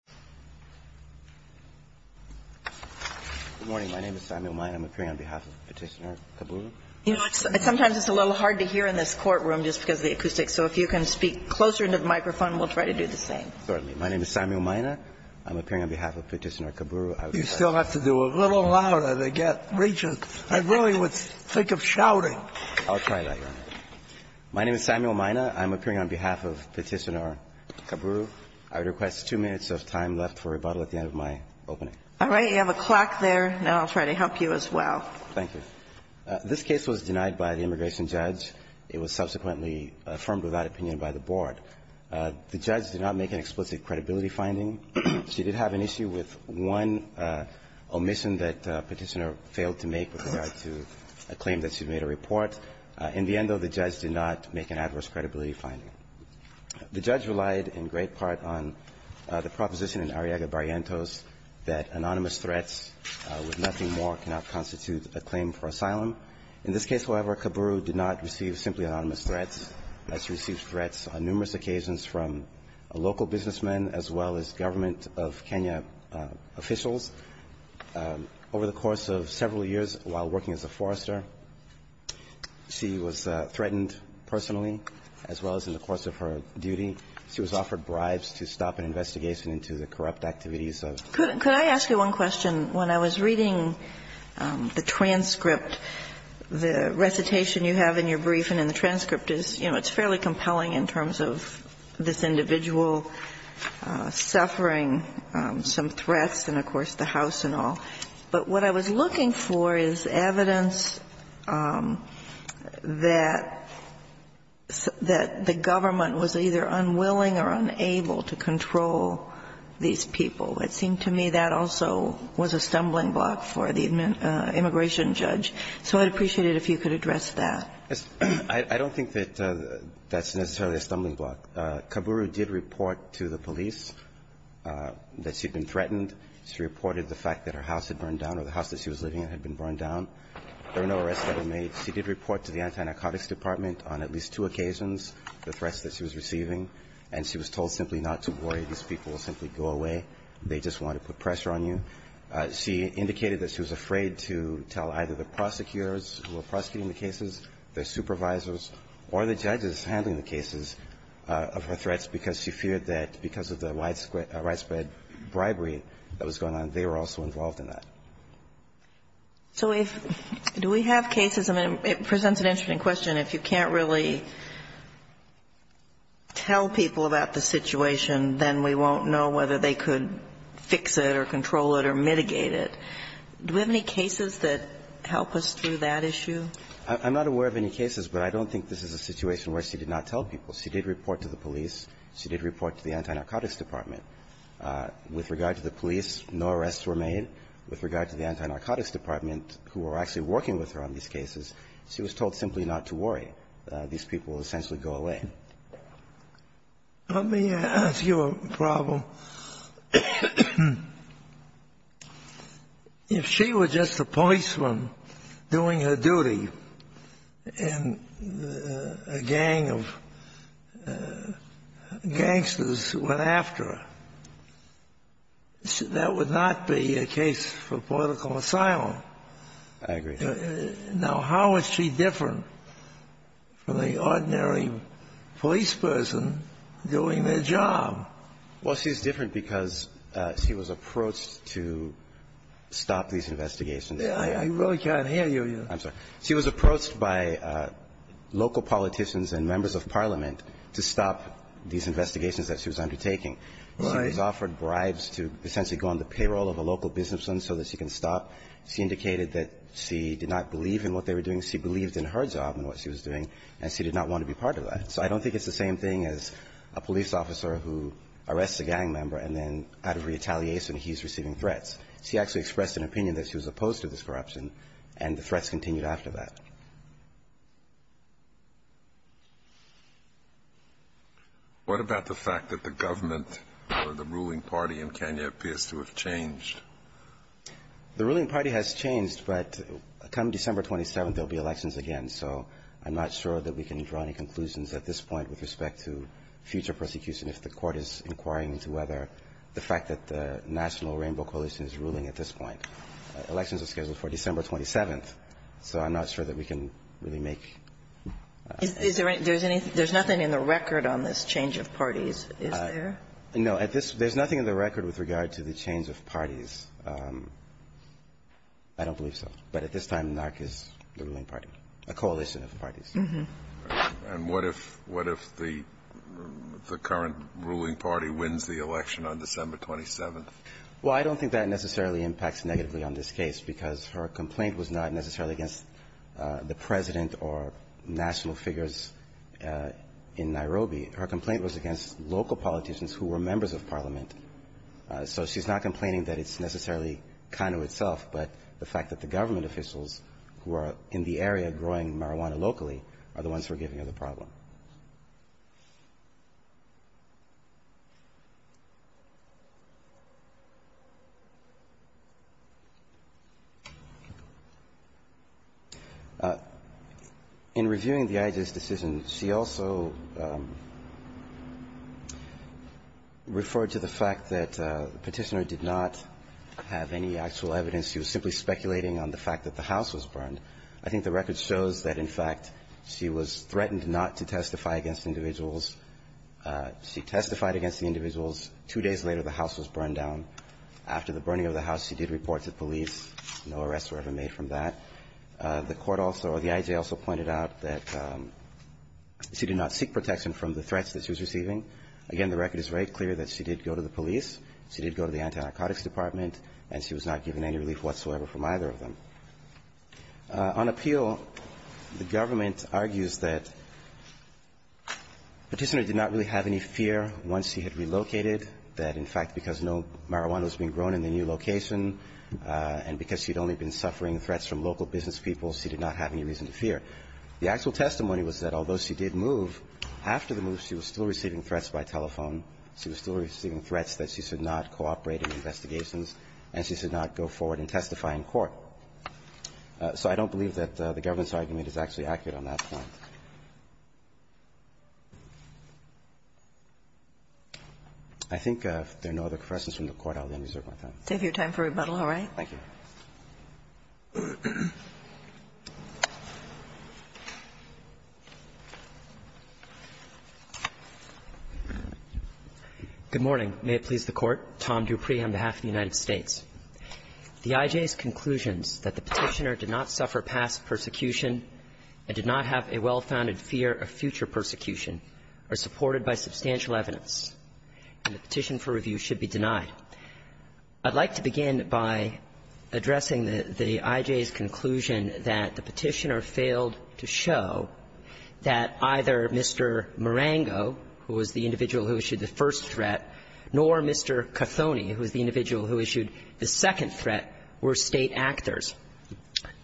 on behalf of Petitioner-Kaburu, I would request two minutes of time for the Court to hear Samuel Mina. Samuel Mina, Jr. Good morning. My name is Samuel Mina. I'm appearing on behalf of Petitioner-Kaburu. Sometimes it's a little hard to hear in this courtroom just because of the acoustics. So if you can speak closer into the microphone, we'll try to do the same. Certainly. My name is Samuel Mina. I'm appearing on behalf of Petitioner-Kaburu. You still have to do it a little louder to get it reaching. I really would think of shouting. I'll try that, Your Honor. My name is Samuel Mina. I'm appearing on behalf of Petitioner-Kaburu. I would request two minutes of time left for rebuttal at the end of my opening. All right. You have a clock there, and I'll try to help you as well. Thank you. This case was denied by the immigration judge. It was subsequently affirmed without opinion by the board. The judge did not make an explicit credibility finding. She did have an issue with one omission that Petitioner failed to make with regard to a claim that she'd made a report. In the end, though, the judge did not make an adverse credibility finding. The judge relied in great part on the proposition in Arriaga-Barrientos that anonymous threats with nothing more cannot constitute a claim for asylum. In this case, however, Kaburu did not receive simply anonymous threats. She received threats on numerous occasions from a local businessman as well as government of Kenya officials. Over the course of several years while working as a forester, she was threatened personally as well as in the course of her duty. She was offered bribes to stop an investigation into the corrupt activities of the government. Could I ask you one question? When I was reading the transcript, the recitation you have in your brief and in the transcript is, you know, it's fairly compelling in terms of this individual suffering some threats and, of course, the House and all. But what I was looking for is evidence that the government was either unwilling or unable to control these people. It seemed to me that also was a stumbling block for the immigration judge. So I'd appreciate it if you could address that. I don't think that that's necessarily a stumbling block. Kaburu did report to the police that she'd been threatened. She reported the fact that her house had burned down or the house that she was living in had been burned down. There were no arrests that were made. She did report to the anti-narcotics department on at least two occasions the threats that she was receiving, and she was told simply not to worry. These people will simply go away. They just want to put pressure on you. She indicated that she was afraid to tell either the prosecutors who were prosecuting the cases, their supervisors, or the judges handling the cases of her threats because she feared that because of the widespread bribery that was going on, they were also involved in that. So if do we have cases? I mean, it presents an interesting question. If you can't really tell people about the situation, then we won't know whether they could fix it or control it or mitigate it. Do we have any cases that help us through that issue? I'm not aware of any cases, but I don't think this is a situation where she did not tell people. She did report to the police. She did report to the anti-narcotics department. With regard to the police, no arrests were made. With regard to the anti-narcotics department, who were actually working with her on these cases, she was told simply not to worry. These people will essentially go away. Let me ask you a problem. If she were just a policeman doing her duty and a gang of gangsters went after her, that would not be a case for political asylum. I agree. Now, how is she different from the ordinary police person doing their job? Well, she's different because she was approached to stop these investigations. I really can't hear you. I'm sorry. She was approached by local politicians and members of Parliament to stop these investigations that she was undertaking. Right. She was offered bribes to essentially go on the payroll of a local businessman so that she can stop. She indicated that she did not believe in what they were doing. She believed in her job and what she was doing, and she did not want to be part of that. So I don't think it's the same thing as a police officer who arrests a gang member and then, out of retaliation, he's receiving threats. She actually expressed an opinion that she was opposed to this corruption, and the threats continued after that. What about the fact that the government or the ruling party in Kenya appears to have changed? The ruling party has changed, but come December 27th, there will be elections again. So I'm not sure that we can draw any conclusions at this point with respect to future prosecution if the Court is inquiring into whether the fact that the National Rainbow Coalition is ruling at this point. Elections are scheduled for December 27th, so I'm not sure that we can really make Is there anything? There's nothing in the record on this change of parties, is there? No. There's nothing in the record with regard to the change of parties. I don't believe so. But at this time, NARC is the ruling party, a coalition of parties. And what if the current ruling party wins the election on December 27th? Well, I don't think that necessarily impacts negatively on this case, because her complaint was not necessarily against the President or national figures in Nairobi. Her complaint was against local politicians who were members of parliament. So she's not complaining that it's necessarily Kano itself, but the fact that the government officials who are in the area growing marijuana locally are the ones who are giving her the problem. In reviewing the IGES decision, she also referred to the fact that the Petitioner did not have any actual evidence. She was simply speculating on the fact that the house was burned. I think the record shows that, in fact, she was threatened not to testify against individuals. She testified against the individuals. Two days later, the house was burned down. After the burning of the house, she did report to police. No arrests were ever made from that. The court also or the IGES also pointed out that she did not seek protection from the threats that she was receiving. Again, the record is very clear that she did go to the police, she did go to the On appeal, the government argues that Petitioner did not really have any fear once she had relocated, that, in fact, because no marijuana was being grown in the new location, and because she'd only been suffering threats from local business people, she did not have any reason to fear. The actual testimony was that although she did move, after the move she was still receiving threats by telephone, she was still receiving threats that she should not cooperate in investigations, and she should not go forward and testify in court. So I don't believe that the government's argument is actually accurate on that point. I think if there are no other questions from the Court, I'll end my time. Take your time for rebuttal. All right. Thank you. Good morning. May it please the Court. Tom Dupree on behalf of the United States. The IJ's conclusions that the Petitioner did not suffer past persecution and did not have a well-founded fear of future persecution are supported by substantial evidence, and the petition for review should be denied. I'd like to begin by addressing the IJ's conclusion that the Petitioner failed to show that either Mr. Marengo, who was the individual who issued the first threat, nor Mr. Kothony, who was the individual who issued the second threat, were State actors.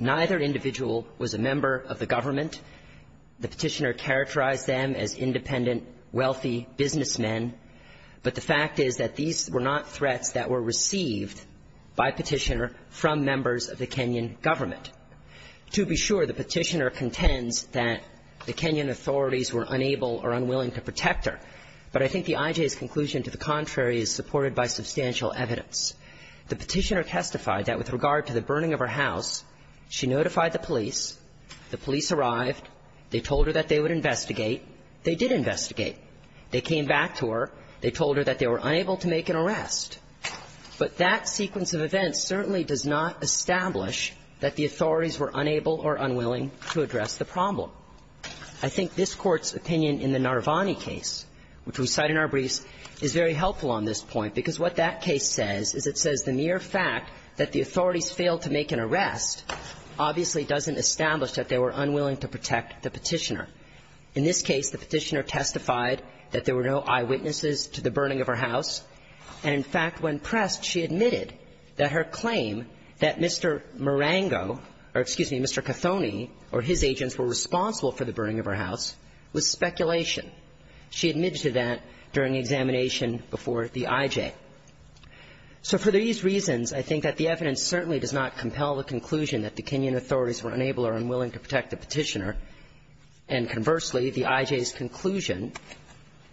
Neither individual was a member of the government. The Petitioner characterized them as independent, wealthy businessmen. But the fact is that these were not threats that were received by Petitioner from members of the Kenyan government. To be sure, the Petitioner contends that the Kenyan authorities were unable or unwilling to protect her, but I think the IJ's conclusion to the contrary is supported by substantial evidence. The Petitioner testified that with regard to the burning of her house, she notified the police. The police arrived. They told her that they would investigate. They did investigate. They came back to her. They told her that they were unable to make an arrest. But that sequence of events certainly does not establish that the authorities were unable or unwilling to address the problem. I think this Court's opinion in the Narvani case, which we cite in our briefs, is very helpful on this point, because what that case says is it says the mere fact that the authorities failed to make an arrest obviously doesn't establish that they were unwilling to protect the Petitioner. In this case, the Petitioner testified that there were no eyewitnesses to the burning of her house, and in fact, when pressed, she admitted that her claim that Mr. Marengo or, excuse me, Mr. Cothoni or his agents were responsible for the burning of her house was speculation. She admitted to that during the examination before the IJ. So for these reasons, I think that the evidence certainly does not compel the conclusion that the Kenyan authorities were unable or unwilling to protect the Petitioner, and conversely, the IJ's conclusion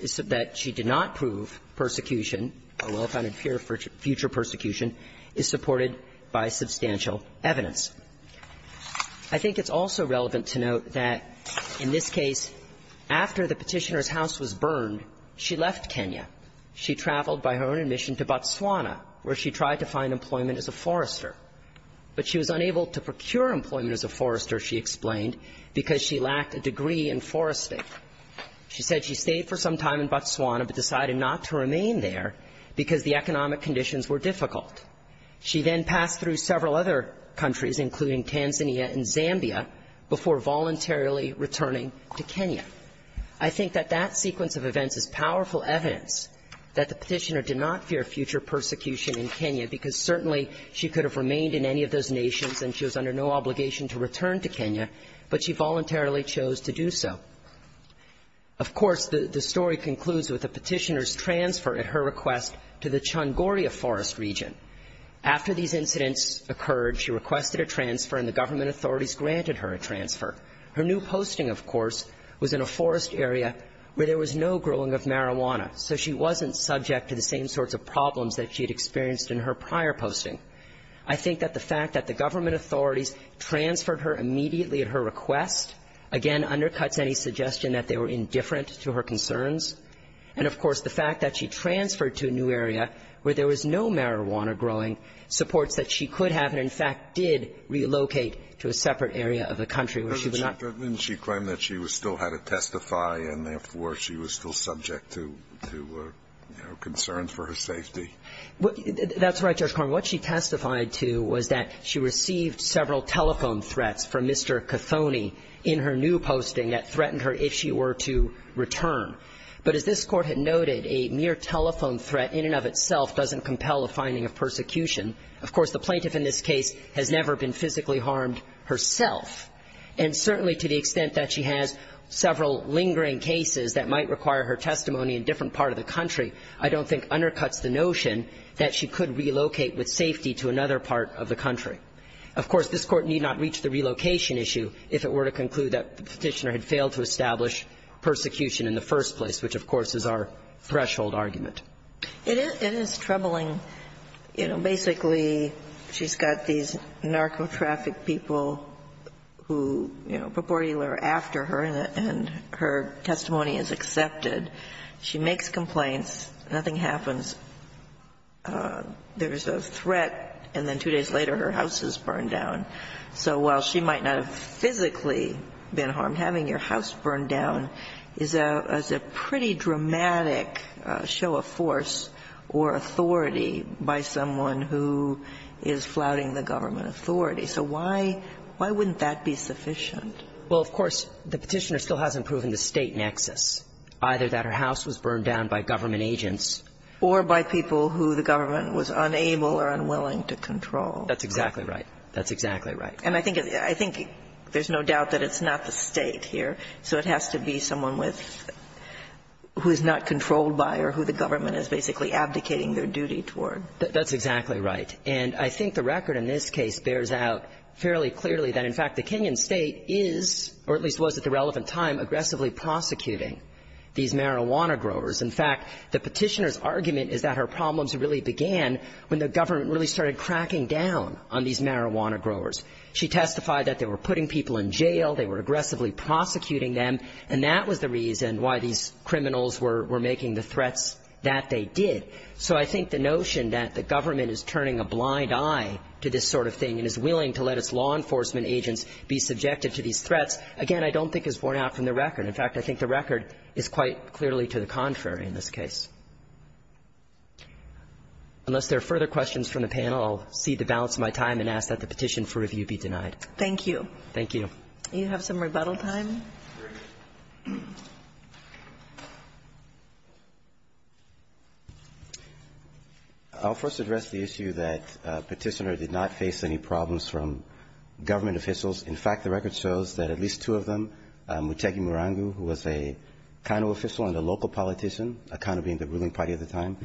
is that she did not prove persecution or well-founded fear for future persecution is supported by substantial evidence. I think it's also relevant to note that in this case, after the Petitioner's house was burned, she left Kenya. She traveled by her own admission to Botswana, where she tried to find employment as a forester, but she was unable to procure employment as a forester, she explained, because she lacked a degree in forestry. She said she stayed for some time in Botswana, but decided not to remain there because the economic conditions were difficult. She then passed through several other countries, including Tanzania and Zambia, before voluntarily returning to Kenya. I think that that sequence of events is powerful evidence that the Petitioner did not fear future persecution in Kenya, because certainly she could have remained in any of those nations, and she was under no obligation to return to Kenya, but she voluntarily chose to do so. Of course, the story concludes with the Petitioner's transfer, at her request, to the Chungoria forest region. After these incidents occurred, she requested a transfer, and the government authorities granted her a transfer. Her new posting, of course, was in a forest area where there was no growing of marijuana, so she wasn't subject to the same sorts of problems that she had experienced in her prior posting. I think that the fact that the government authorities transferred her immediately at her request, again, undercuts any suggestion that they were indifferent to her concerns. And, of course, the fact that she transferred to a new area where there was no marijuana growing supports that she could have and, in fact, did relocate to a separate area of the country where she would not be. But didn't she claim that she still had to testify and, therefore, she was still subject to, you know, concerns for her safety? That's right, Judge Carman. And what she testified to was that she received several telephone threats from Mr. Cothoni in her new posting that threatened her if she were to return. But as this Court had noted, a mere telephone threat in and of itself doesn't compel a finding of persecution. Of course, the plaintiff in this case has never been physically harmed herself. And certainly to the extent that she has several lingering cases that might require her testimony in a different part of the country, I don't think undercuts the notion that she could relocate with safety to another part of the country. Of course, this Court need not reach the relocation issue if it were to conclude that the Petitioner had failed to establish persecution in the first place, which, of course, is our threshold argument. It is troubling. You know, basically, she's got these narcotraffic people who, you know, purportedly were after her, and her testimony is accepted. She makes complaints. Nothing happens. There is a threat, and then two days later her house is burned down. So while she might not have physically been harmed, having your house burned down is a pretty dramatic show of force or authority by someone who is flouting the government authority. So why wouldn't that be sufficient? Well, of course, the Petitioner still hasn't proven the State nexus, either that her house was burned down by government agents. Or by people who the government was unable or unwilling to control. That's exactly right. That's exactly right. And I think there's no doubt that it's not the State here, so it has to be someone with – who is not controlled by or who the government is basically abdicating their duty toward. That's exactly right. And I think the record in this case bears out fairly clearly that, in fact, the Kenyan State is, or at least was at the relevant time, aggressively prosecuting these marijuana growers. In fact, the Petitioner's argument is that her problems really began when the government really started cracking down on these marijuana growers. She testified that they were putting people in jail, they were aggressively prosecuting them, and that was the reason why these criminals were making the threats that they did. So I think the notion that the government is turning a blind eye to this sort of thing and is willing to let its law enforcement agents be subjected to these threats, again, I don't think is borne out from the record. In fact, I think the record is quite clearly to the contrary in this case. Unless there are further questions from the panel, I'll cede the balance of my time and ask that the petition for review be denied. Thank you. Thank you. Do you have some rebuttal time? I'll first address the issue that Petitioner did not face any problems from government officials. In fact, the record shows that at least two of them, Muchegi Murangu, who was a Kano official and a local politician, a Kano being the ruling party at the time,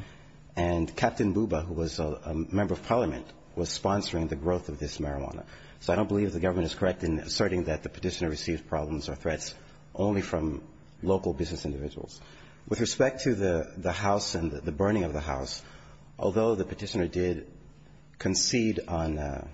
and Captain Buba, who was a member of parliament, was sponsoring the growth of this marijuana. So I don't believe the government is correct in asserting that the Petitioner received problems or threats only from local business individuals. With respect to the house and the burning of the house, although the Petitioner did concede on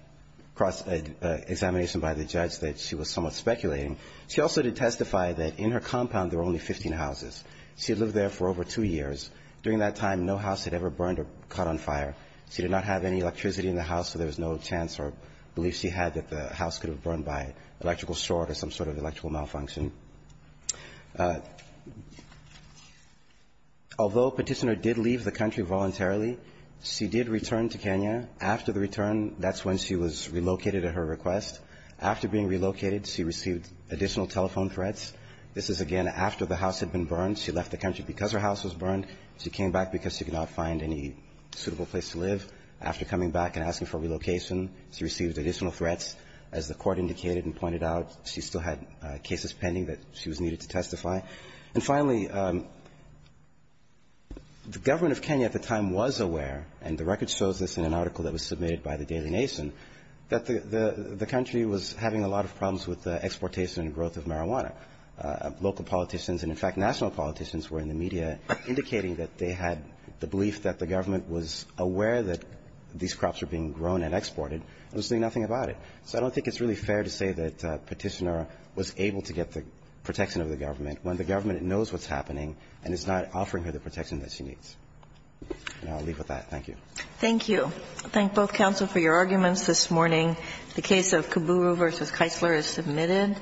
cross-examination by the judge that she was somewhat speculating, she also did testify that in her compound there were only 15 houses. She had lived there for over two years. During that time, no house had ever burned or caught on fire. She did not have any electricity in the house, so there was no chance or belief she had that the house could have burned by electrical short or some sort of electrical malfunction. Although Petitioner did leave the country voluntarily, she did return to Kenya. After the return, that's when she was relocated at her request. After being relocated, she received additional telephone threats. This is, again, after the house had been burned. She left the country because her house was burned. She came back because she could not find any suitable place to live. After coming back and asking for relocation, she received additional threats. As the Court indicated and pointed out, she still had cases pending that she was needed to testify. And finally, the government of Kenya at the time was aware, and the record shows this in an article that was submitted by the Daily Nation, that the country was having a lot of problems with the exportation and growth of marijuana. And so the government was aware of that, and the government was aware of the fact that there were local politicians and, in fact, national politicians were in the media indicating that they had the belief that the government was aware that these crops were being grown and exported, and was doing nothing about it. So I don't think it's really fair to say that Petitioner was able to get the protection of the government when the government knows what's happening and is not offering her the protection that she needs. And I'll leave with that. Thank you. Thank you. I thank both counsel for your arguments this morning. The case of Kiburu v. Keisler is submitted.